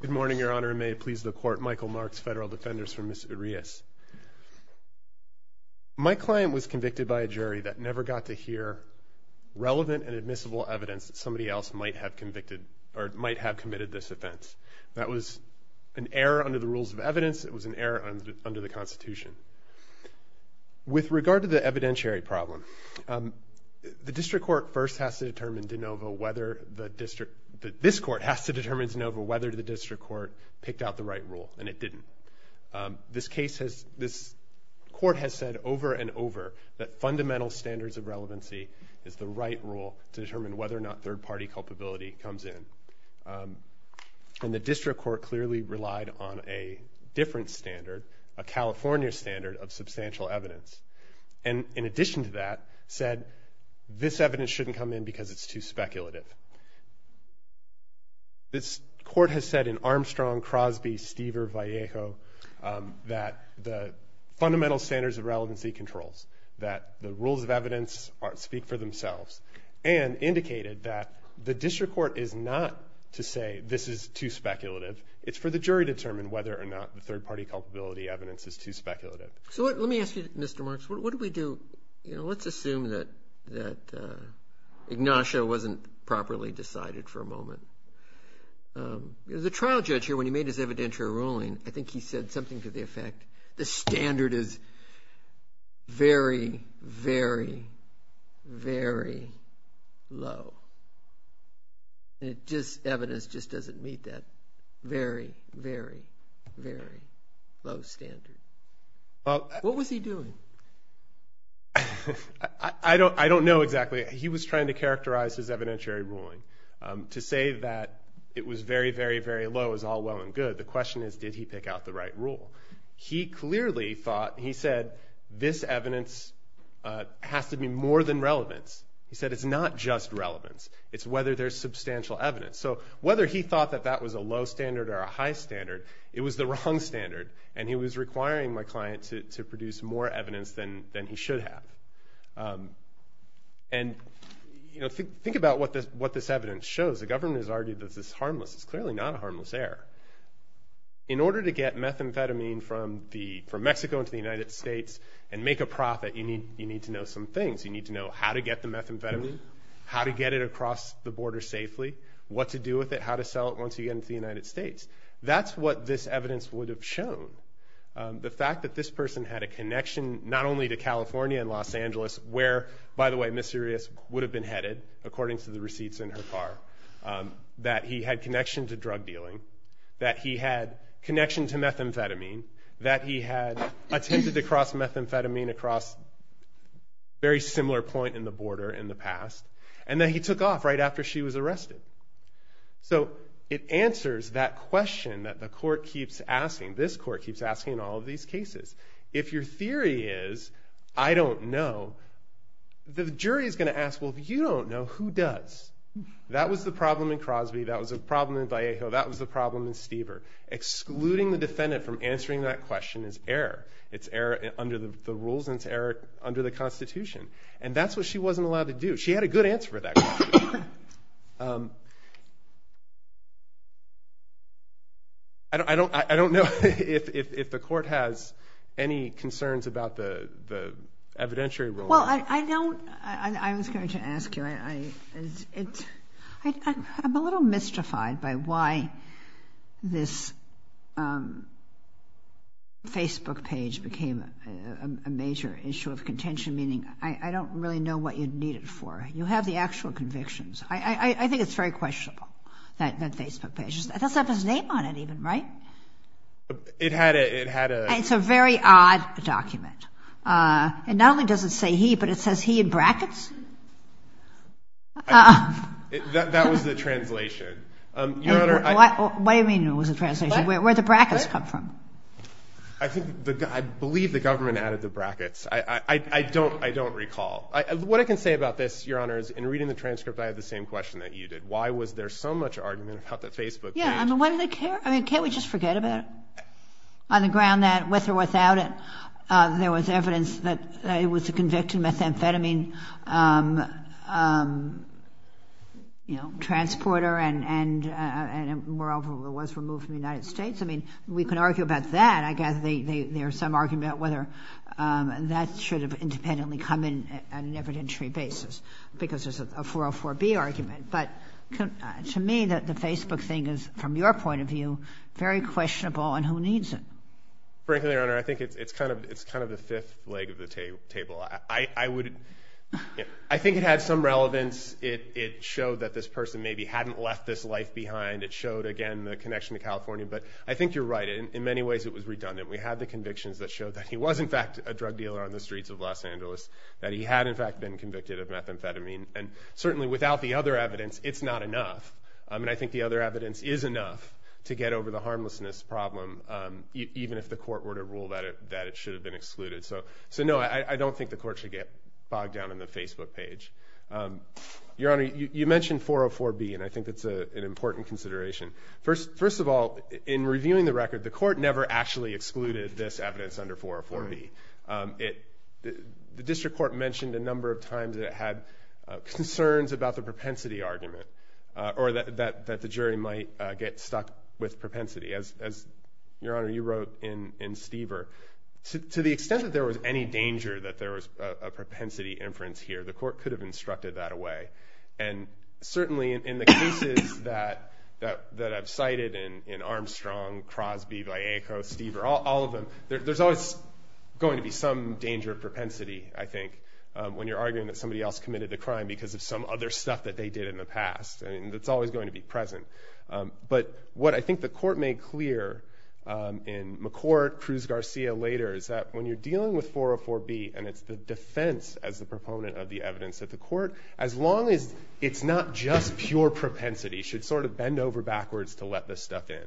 Good morning, Your Honor, and may it please the Court, Michael Marks, Federal Defenders for Ms. Urias. My client was convicted by a jury that never got to hear relevant and admissible evidence that somebody else might have convicted or might have committed this offense. That was an error under the rules of evidence, it was an error under the Constitution. With regard to the evidentiary problem, the District Court first has to determine de novo whether the District, this Court has to determine de novo whether the District Court picked out the right rule, and it didn't. This case has, this Court has said over and over that fundamental standards of relevancy is the right rule to determine whether or not third-party culpability comes in. And the District Court clearly relied on a different standard, a California standard of substantial evidence, and in addition to that said this evidence shouldn't come in because it's too speculative. This Court has said in Armstrong, Crosby, Stever, Vallejo that the fundamental standards of relevancy controls, that the rules of evidence speak for themselves, and indicated that the District Court is not to say this is too speculative, it's for the jury to determine whether or not the third-party culpability evidence is too speculative. So let me ask you, Mr. I think we do, you know, let's assume that that Ignatius wasn't properly decided for a moment. The trial judge here, when he made his evidentiary ruling, I think he said something to the effect, the standard is very, very, very low. It just, evidence just doesn't meet that very, very, very low standard. What was he doing? I don't know exactly. He was trying to characterize his evidentiary ruling. To say that it was very, very, very low is all well and good. The question is, did he pick out the right rule? He clearly thought, he said, this evidence has to be more than relevance. He said it's not just relevance, it's whether there's substantial evidence. So whether he thought that that was a low standard or a high standard, it was the wrong standard, and he was requiring my client to produce more evidence than he should have. And, you know, think about what this evidence shows. The government has argued that this is harmless. It's clearly not a harmless error. In order to get methamphetamine from Mexico into the United States and make a profit, you need to know some things. You need to know how to get the methamphetamine, how to get it across the border safely, what to do with it, how to sell it once you get into the United States. That's what this evidence would have shown. The fact that this person had a connection not only to California and Los Angeles, where, by the way, Ms. Sirius would have been headed, according to the receipts in her car, that he had connection to drug dealing, that he had connection to methamphetamine, that he had attempted to cross methamphetamine across a very similar point in the border in the past, and then he took off right after she was arrested. So it answers that question that the court keeps asking, this court keeps asking in all of these cases. If your theory is, I don't know, the jury is going to ask, well, if you don't know, who does? That was the problem in Crosby, that was a problem in Vallejo, that was the problem in Stever. Excluding the defendant from answering that question is error. It's error under the rules and it's error under the Constitution. And that's what she wasn't allowed to do. She had a good answer for that question. I don't know if the court has any concerns about the evidentiary rule. Well, I don't, I was going to ask you, I'm a little mystified by why this Facebook page became a major issue of contention, meaning I don't really know what you'd need it for. You have the actual convictions. I think it's very questionable, that Facebook page. It doesn't have his name on it even, right? It had a... It's a very odd document. It not only doesn't say he, but it says he in brackets? That was the translation. What do you mean it was a translation? Where did the brackets come from? I believe the government added the brackets. I don't, I don't recall. What I can say about this, Your Honor, is in reading the transcript, I had the same question that you did. Why was there so much argument about that Facebook page? Yeah, I mean, why did they care? I mean, can't we just forget about it? On the ground that, with or without it, there was evidence that it was a convicted methamphetamine, you know, transporter and moreover, it was removed from the United States. I mean, we can argue about that. I guess there's some argument whether that should have independently come in on an evidentiary basis, because there's a 404B argument. But to me, that the Facebook thing is, from your point of view, very questionable and who needs it? Frankly, Your Honor, I think it's kind of, it's kind of the fifth leg of the table. I would, I think it had some relevance. It showed that this person maybe hadn't left this life behind. It showed, again, the connection to California. But I think you're right. In many ways, it was redundant. We had the convictions that showed that he was, in fact, a drug dealer on the streets of Los Angeles, that he had, in fact, been convicted of methamphetamine. And certainly, without the other evidence, it's not enough. I mean, I think the other evidence is enough to get over the harmlessness problem, even if the court were to rule that it should have been excluded. So, no, I don't think the court should get bogged down in the Facebook page. Your Honor, you mentioned 404B, and I think that's an interesting point. In reviewing the record, the court never actually excluded this evidence under 404B. The district court mentioned a number of times that it had concerns about the propensity argument, or that the jury might get stuck with propensity. As, Your Honor, you wrote in Stever, to the extent that there was any danger that there was a propensity inference here, the court could have instructed that away. And certainly, in the cases that I've cited in Armstrong, Crosby, Vallejo, Stever, all of them, there's always going to be some danger of propensity, I think, when you're arguing that somebody else committed a crime because of some other stuff that they did in the past. I mean, that's always going to be present. But what I think the court made clear in McCourt, Cruz-Garcia later, is that when you're dealing with 404B, and it's the defense as the proponent of the evidence at the court, as long as it's not just pure propensity, should sort of bend over backwards to let this stuff in.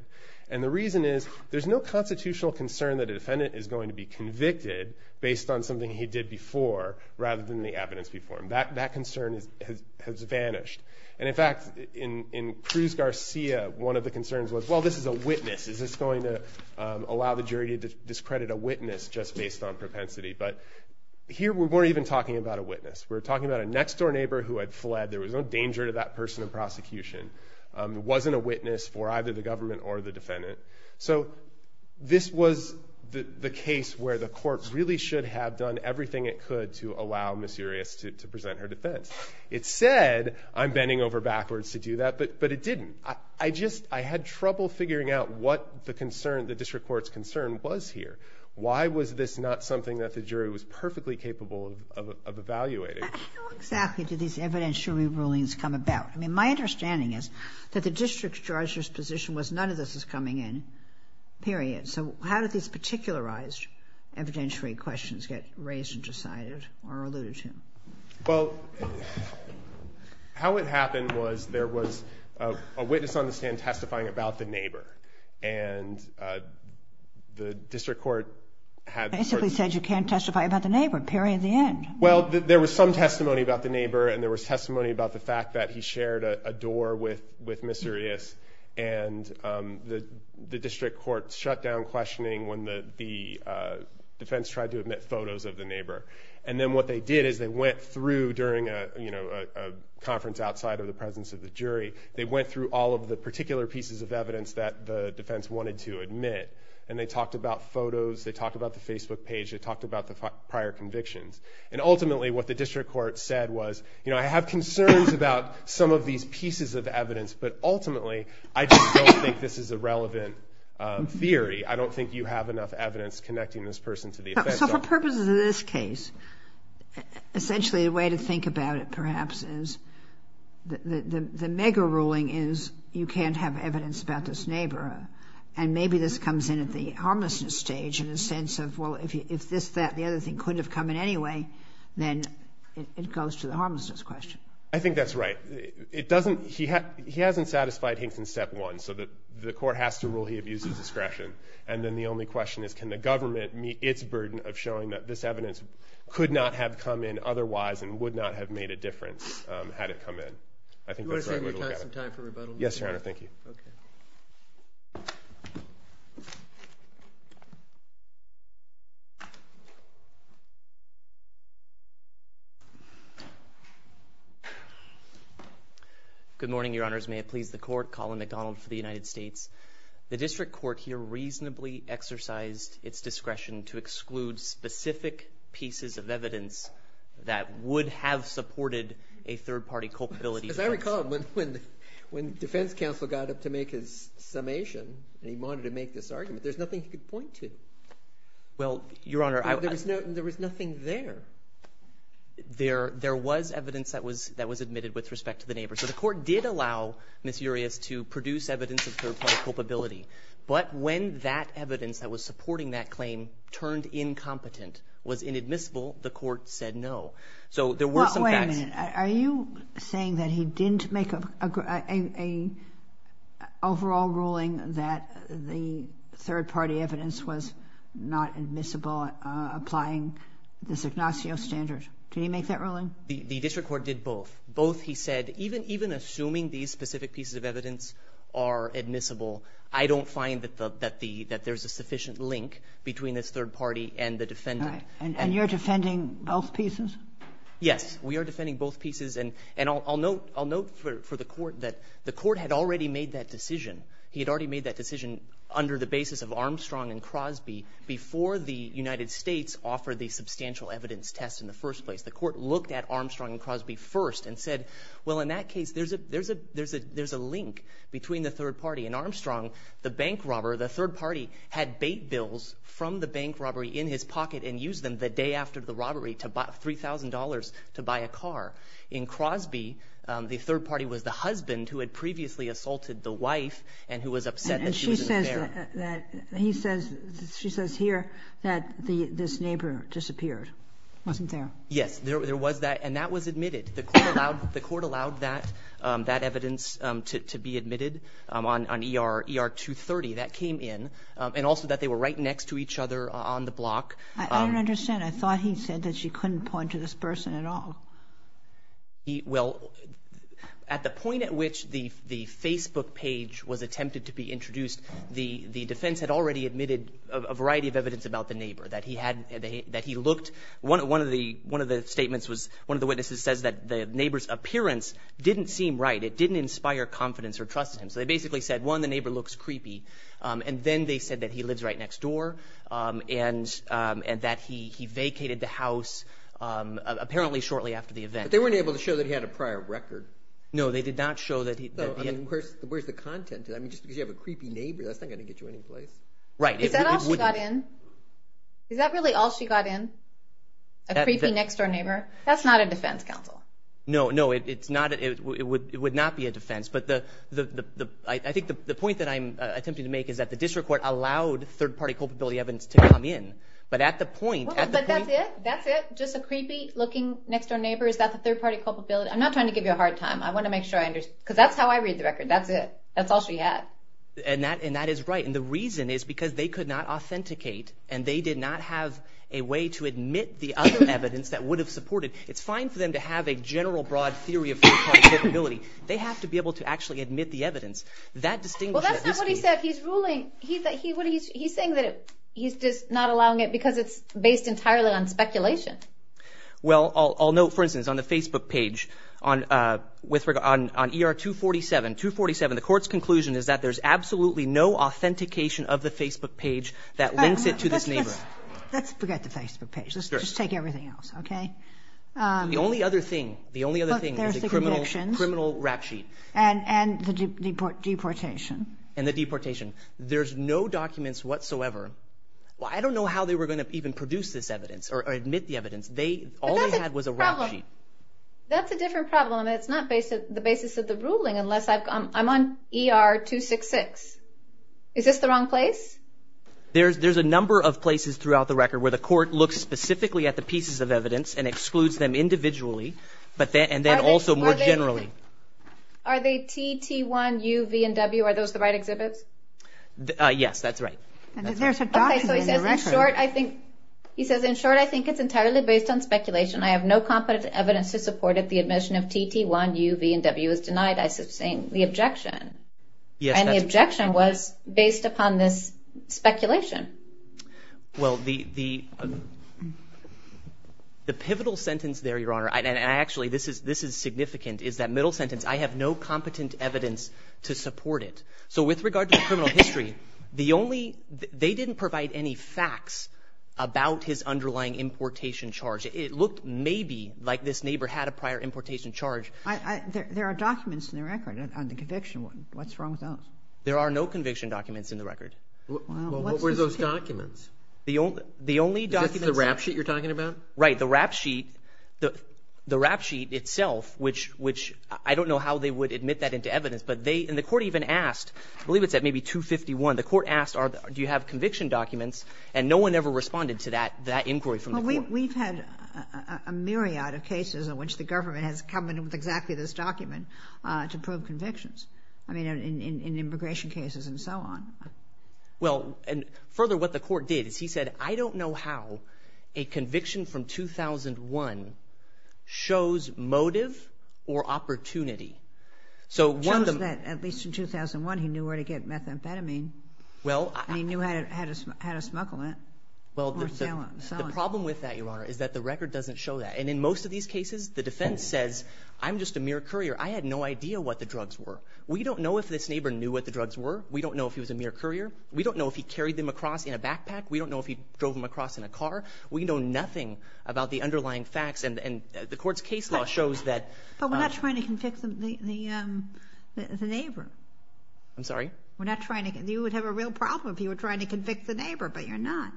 And the reason is, there's no constitutional concern that a defendant is going to be convicted based on something he did before, rather than the evidence before him. That concern has vanished. And in fact, in Cruz-Garcia, one of the concerns was, well, this is a witness. Is this going to allow the jury to discredit a witness just based on propensity? But here, we weren't even talking about a witness. We're talking about a next-door neighbor who had fled. There was no prosecution. There wasn't a witness for either the government or the defendant. So, this was the case where the court really should have done everything it could to allow Ms. Urias to present her defense. It said, I'm bending over backwards to do that, but it didn't. I just, I had trouble figuring out what the concern, the district court's concern was here. Why was this not something that the jury was perfectly capable of evaluating? How exactly did these evidentiary rulings come about? I mean, my understanding is that the district judge's position was, none of this is coming in, period. So, how did these particularized evidentiary questions get raised and decided or alluded to? Well, how it happened was, there was a witness on the stand testifying about the neighbor. And the district court had... Basically said, you can't testify about the neighbor, period, the end. Well, there was some testimony about the neighbor, and there was testimony about the fact that he shared a door with Mr. Urias. And the district court shut down questioning when the defense tried to admit photos of the neighbor. And then what they did is, they went through during a conference outside of the presence of the jury, they went through all of the particular pieces of evidence that the defense wanted to admit. And they talked about photos, they talked about the Facebook page, they talked about the prior convictions. And ultimately, what the district court said was, you know, I have concerns about some of these pieces of evidence, but ultimately, I just don't think this is a relevant theory. I don't think you have enough evidence connecting this person to the offense. So, for purposes of this case, essentially, the way to think about it, perhaps, is the mega ruling is, you can't have evidence about this neighbor. And maybe this comes in at the homelessness stage in a sense of, well, if this, that, the other thing couldn't have come in anyway, then it goes to the homelessness question. I think that's right. It doesn't... He hasn't satisfied Hinkson's step one, so the court has to rule he abuses discretion. And then the only question is, can the government meet its burden of showing that this evidence could not have come in otherwise and would not have made a difference had it come in? I think that's the right way to look at it. You wanna save your time for rebuttal? Yes, Your Honor. Thank you. Okay. Good morning, Your Honors. May it please the court. Colin McDonald for the United States. The district court here reasonably exercised its discretion to exclude specific pieces of evidence that would have supported a third party culpability defense. As I recall, when defense counsel got up to make his summation, and he wanted to make this argument, there's nothing he could point to. Well, Your Honor... There was nothing there. There was evidence that was admitted with respect to the neighbor. So the court did allow Ms. Urias to produce evidence of third party culpability. But when that evidence that was supporting that claim turned incompetent, was inadmissible, the court said no. So there were some facts... Wait a minute. Are you saying that he was not admissible applying this Ignacio standard? Did he make that ruling? The district court did both. Both, he said, even assuming these specific pieces of evidence are admissible, I don't find that there's a sufficient link between this third party and the defendant. And you're defending both pieces? Yes, we are defending both pieces. And I'll note for the court that the court had already made that decision. He had already made that decision under the before the United States offered the substantial evidence test in the first place. The court looked at Armstrong and Crosby first and said, well, in that case, there's a link between the third party. In Armstrong, the bank robber, the third party, had bait bills from the bank robbery in his pocket and used them the day after the robbery to buy $3,000 to buy a car. In Crosby, the third party was the husband who had previously assaulted the wife and who was upset that she wasn't there. And she says that he says, she says here that this neighbor disappeared, wasn't there? Yes, there was that. And that was admitted. The court allowed that evidence to be admitted on ER 230. That came in. And also that they were right next to each other on the block. I don't understand. I thought he said that she couldn't point to this person at all. Well, at the point at which the Facebook page was attempted to be introduced, the defense had already admitted a variety of evidence about the neighbor, that he looked. One of the statements was one of the witnesses says that the neighbor's appearance didn't seem right. It didn't inspire confidence or trust in him. So they basically said, one, the neighbor looks creepy. And then they said that he lives right next door and that he vacated the house apparently shortly after the event. But they weren't able to show that he had a prior record. No, they did not show that. Where's the content? I mean, just because you have a creepy neighbor, that's not going to get you any place. Right. Is that all she got in? Is that really all she got in? A creepy next door neighbor? That's not a defense counsel. No, no, it's not. It would it would not be a defense. But the the I think the point that I'm attempting to make is that the district court allowed third party culpability evidence to come in. But at the point. But that's it. That's it. Just a I'm not trying to give you a hard time. I want to make sure I understand, because that's how I read the record. That's it. That's all she had. And that and that is right. And the reason is because they could not authenticate and they did not have a way to admit the other evidence that would have supported. It's fine for them to have a general broad theory of ability. They have to be able to actually admit the evidence that distinguishes what he said. He's ruling he that he what he's he's saying that he's just not allowing it because it's based entirely on speculation. Well, I'll know, for instance, on the Facebook page on with regard on on ER 247, 247, the court's conclusion is that there's absolutely no authentication of the Facebook page that links it to this neighbor. Let's forget the Facebook page. Let's just take everything else. Okay. The only other thing, the only other thing is the criminal criminal rap sheet. And and the deportation. And the deportation. There's no documents whatsoever. Well, I don't know how they were going to even produce this evidence or admit the evidence. All they had was a rap sheet. That's a different problem. It's not based at the basis of the ruling unless I'm on ER 266. Is this the wrong place? There's there's a number of places throughout the record where the court looks specifically at the pieces of evidence and excludes them individually. But then and then also more generally. Are they TT1, U, V and W? Are those the right exhibits? Yes, that's right. There's a document in the record. He says in short, I think it's entirely based on speculation. I have no competent evidence to support it. The admission of TT1, U, V and W is denied. I sustain the objection. Yes. And the objection was based upon this speculation. Well, the the the pivotal sentence there, your honor. And actually, this is this is significant, is that middle sentence. I have no competent evidence to support it. So with regard to the criminal history, the only they didn't provide any facts about his underlying importation charge. It looked maybe like this neighbor had a prior importation charge. There are documents in the record on the conviction. What's wrong with those? There are no conviction documents in the record. What were those documents? The only the only document is the rap sheet you're talking about. Right. The rap sheet, the rap sheet itself, which which I don't know how they would admit that into evidence. But they and the court even asked, I believe it's at maybe 251. The court asked, do you have conviction documents? And no one ever responded to that. That inquiry from we've had a myriad of cases in which the government has come in with exactly this document to prove convictions. I mean, in immigration cases and so on. Well, and further, what the court did is he said, I don't know how a conviction from 2001 shows motive or opportunity. So I had a had a smugglement. Well, the problem with that, Your Honor, is that the record doesn't show that. And in most of these cases, the defense says, I'm just a mere courier. I had no idea what the drugs were. We don't know if this neighbor knew what the drugs were. We don't know if he was a mere courier. We don't know if he carried them across in a backpack. We don't know if he drove them across in a car. We know nothing about the underlying facts. And the court's case law shows that. But we're not trying to convict the neighbor. I'm sorry. We're not trying to. You would have a real problem if you were trying to convict the neighbor, but you're not.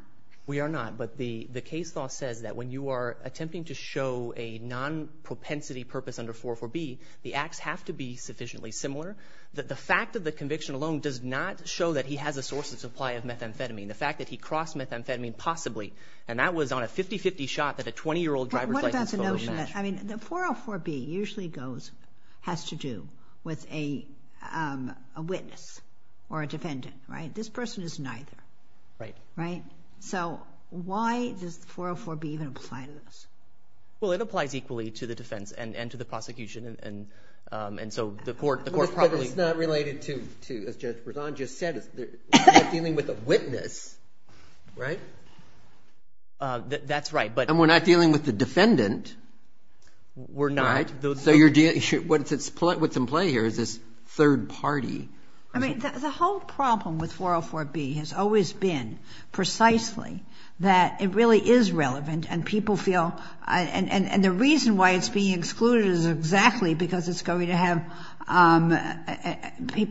We are not. But the case law says that when you are attempting to show a non-propensity purpose under 404B, the acts have to be sufficiently similar that the fact of the conviction alone does not show that he has a source of supply of methamphetamine. The fact that he crossed methamphetamine, possibly, and that was on a 50-50 shot that a 20-year-old driver's license fellows mentioned. What about the notion that I mean, the 404B usually goes has to do with a witness or a defendant, right? This person is neither. Right. Right. So why does the 404B even apply to this? Well, it applies equally to the defense and to the prosecution. And so the court probably. But it's not related to, as Judge Berzon just said, it's dealing with a witness, right? That's right. And we're not dealing with the defendant. We're not. So what's at play here is this third party. I mean, the whole problem with 404B has always been precisely that it really is relevant and people feel, and the reason why it's being excluded is exactly because it's going to have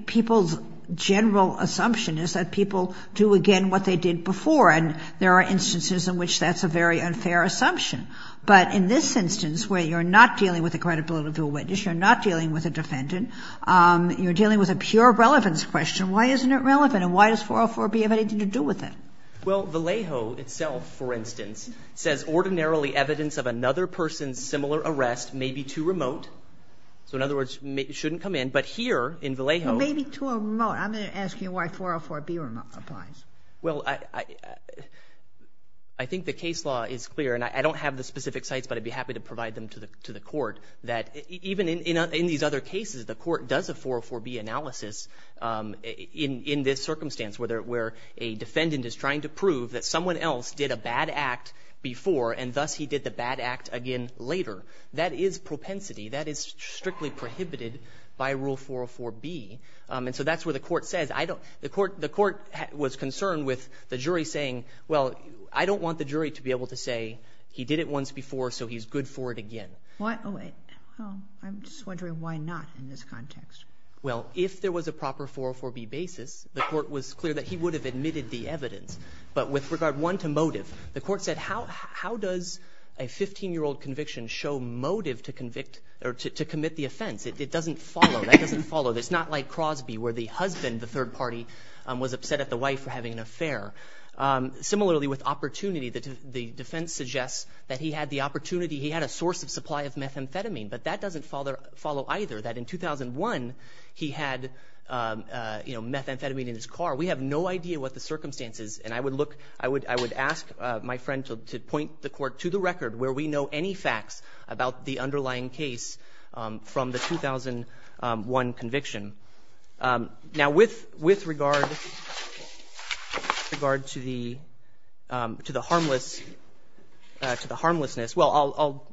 people's general assumption is that people do again what they did before. And there are instances in which that's a very unfair assumption. But in this instance where you're not dealing with the credibility of a witness, you're not dealing with a defendant, you're dealing with a pure relevance question. Why isn't it relevant and why does 404B have anything to do with it? Well, Vallejo itself, for instance, says ordinarily evidence of another person's similar arrest may be too remote. So in other words, it shouldn't come in. But here in Vallejo. May be too remote. I'm going to ask you why 404B applies. Well, I think the case law is clear and I don't have the specific sites, but I'd be happy to provide them to the court that even in these other cases, the court does a 404B analysis in this circumstance where a defendant is trying to prove that someone else did a bad act before and thus he did the bad act again later. That is propensity. That is strictly prohibited by Rule 404B. And so that's where the court says, I don't, the court was concerned with the jury saying, well, I don't want the jury to be able to say he did it once before so he's good for it again. I'm just wondering why not in this context. Well, if there was a proper 404B basis, the court was clear that he would have admitted the evidence. But with regard one to motive, the court said, how does a 15-year-old conviction show motive to commit the offense? It doesn't follow. That doesn't follow. It's not like Crosby where the husband, the third party, was upset at the wife for having an affair. Similarly with opportunity, the defense suggests that he had the opportunity, he had a source of supply of methamphetamine, but that doesn't follow either, that in 2001 he had, you know, methamphetamine in his car. We have no idea what the circumstance is. And I would look, I would ask my friend to point the court to the record where we know any facts about the underlying case from the 2001 conviction. Now, with regard to the, to the harmless, to the harmlessness, well I'll,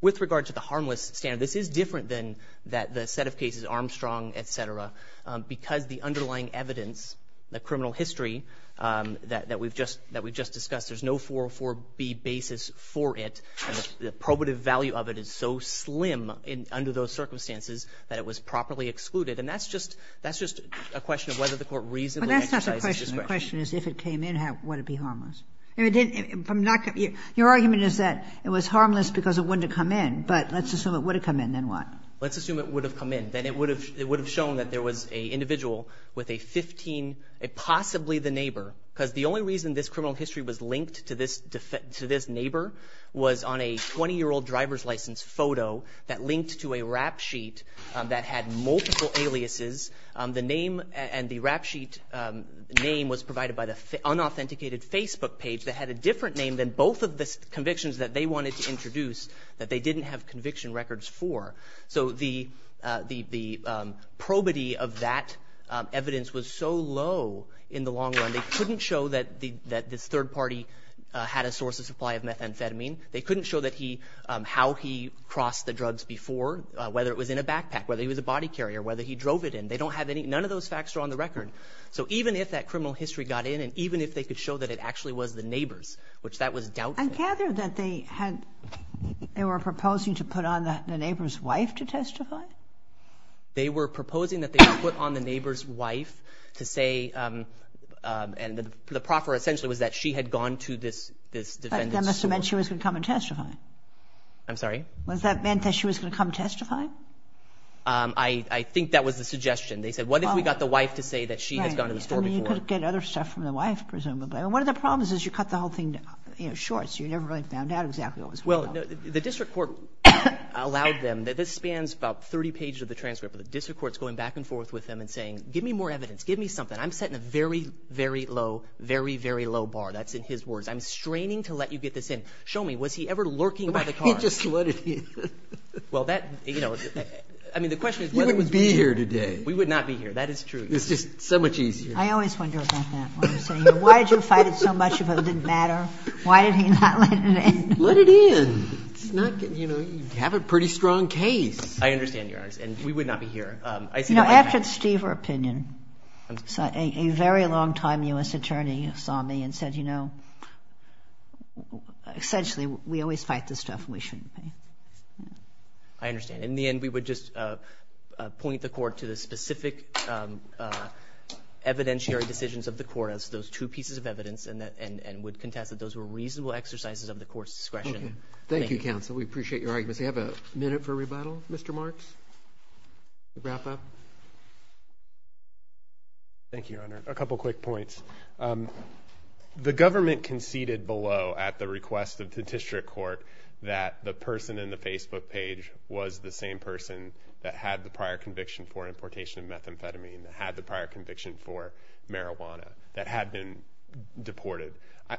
with regard to the harmless standard, this is different than the set of cases, Armstrong, et cetera, because the underlying evidence, the criminal history that we've just discussed, there's no 404B basis for it. The probative value of it is so slim under those circumstances that it was properly excluded. And that's just, that's just a question of whether the court reasonably exercised its discretion. But that's not the question. The question is if it came in, would it be harmless? If it didn't, if I'm not, your argument is that it was harmless because it wouldn't have come in, but let's assume it would have come in, then what? Let's assume it would have come in. Then it would have, it would have shown that there was an individual with a 15, possibly the neighbor, because the only reason this criminal history was linked to this neighbor was on a 20-year-old driver's license photo that linked to a rap sheet that had multiple aliases. The name and the rap sheet name was provided by the unauthenticated Facebook page that had a different name than both of the convictions that they wanted to introduce that they didn't have conviction records for. So the probity of that evidence was so low in the long run, they couldn't show that this third party had a source of supply of methamphetamine. They couldn't show that he, how he crossed the drugs before, whether it was in a backpack, whether he was a body carrier, whether he drove it in. They don't have any, none of those facts are on the record. So even if that criminal history got in and even if they could show that it actually was the neighbor's, which that was doubtful. And gather that they had, they were proposing to put on the neighbor's wife to testify? They were proposing that they would put on the neighbor's wife to say, and the proffer essentially was that she had gone to this, this defendant's school. But that must have meant she was going to come and testify. I'm sorry? Was that meant that she was going to come testify? I, I think that was the suggestion. They said, what if we got the wife to say that she had gone to the store before? Right. I mean, you could get other stuff from the wife, presumably. But one of the problems is you cut the whole thing, you know, short. So you never really found out exactly what was going on. Well, no, the district court allowed them, this spans about 30 pages of the transcript, but the district court's going back and forth with them and saying, give me more evidence. Give me something. I'm setting a very, very low, very, very low bar. That's in his words. I'm straining to let you get this in. Show me, was he ever lurking by the car? He just let it in. Well, that, you know, I mean, the question is whether it was being here today. We would not be here. That is true. It's just so much easier. I always wonder about that. Why did you fight it so much if it didn't matter? Why did he not let it in? Let it in. It's not, you know, you have a pretty strong case. I understand, Your Honor, and we would not be here. I see that as a fact. You know, after Stever opinion, a very long time U.S. attorney saw me and said, you know, essentially, we always fight this stuff and we shouldn't pay. I understand. In the end, we would just point the court to the specific evidentiary decisions of the court as those two pieces of evidence and would contest that those were reasonable exercises of the court's discretion. Thank you, counsel. We appreciate your arguments. Do we have a minute for rebuttal, Mr. Marks, to wrap up? Thank you, Your Honor. A couple of quick points. The government conceded below at the request of the district court that the person in the Facebook page was the same person that had the prior conviction for importation of methamphetamine, that had the prior conviction for marijuana, that had been deported.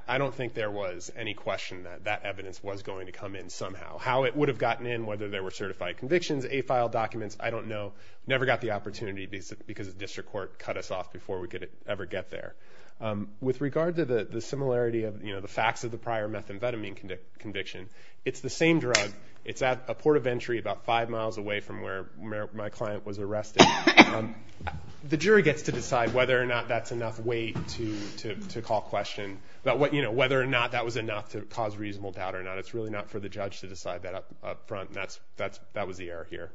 I don't think there was any question that that evidence was going to come in somehow. How it would have gotten in, whether there were certified convictions, AFILE documents, I don't know. Never got the opportunity because the district court cut us off before we could ever get there. With regard to the similarity of the facts of the prior methamphetamine conviction, it's the same drug. It's at a port of entry about five miles away from where my client was arrested. The jury gets to decide whether or not that's enough weight to call question, whether or not that was enough to cause reasonable doubt or not. It's really not for the judge to decide that up front. That was the error here.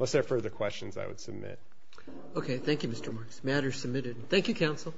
Unless there are further questions, I would submit. Okay. Thank you, Mr. Marks. Matter submitted. Thank you, counsel.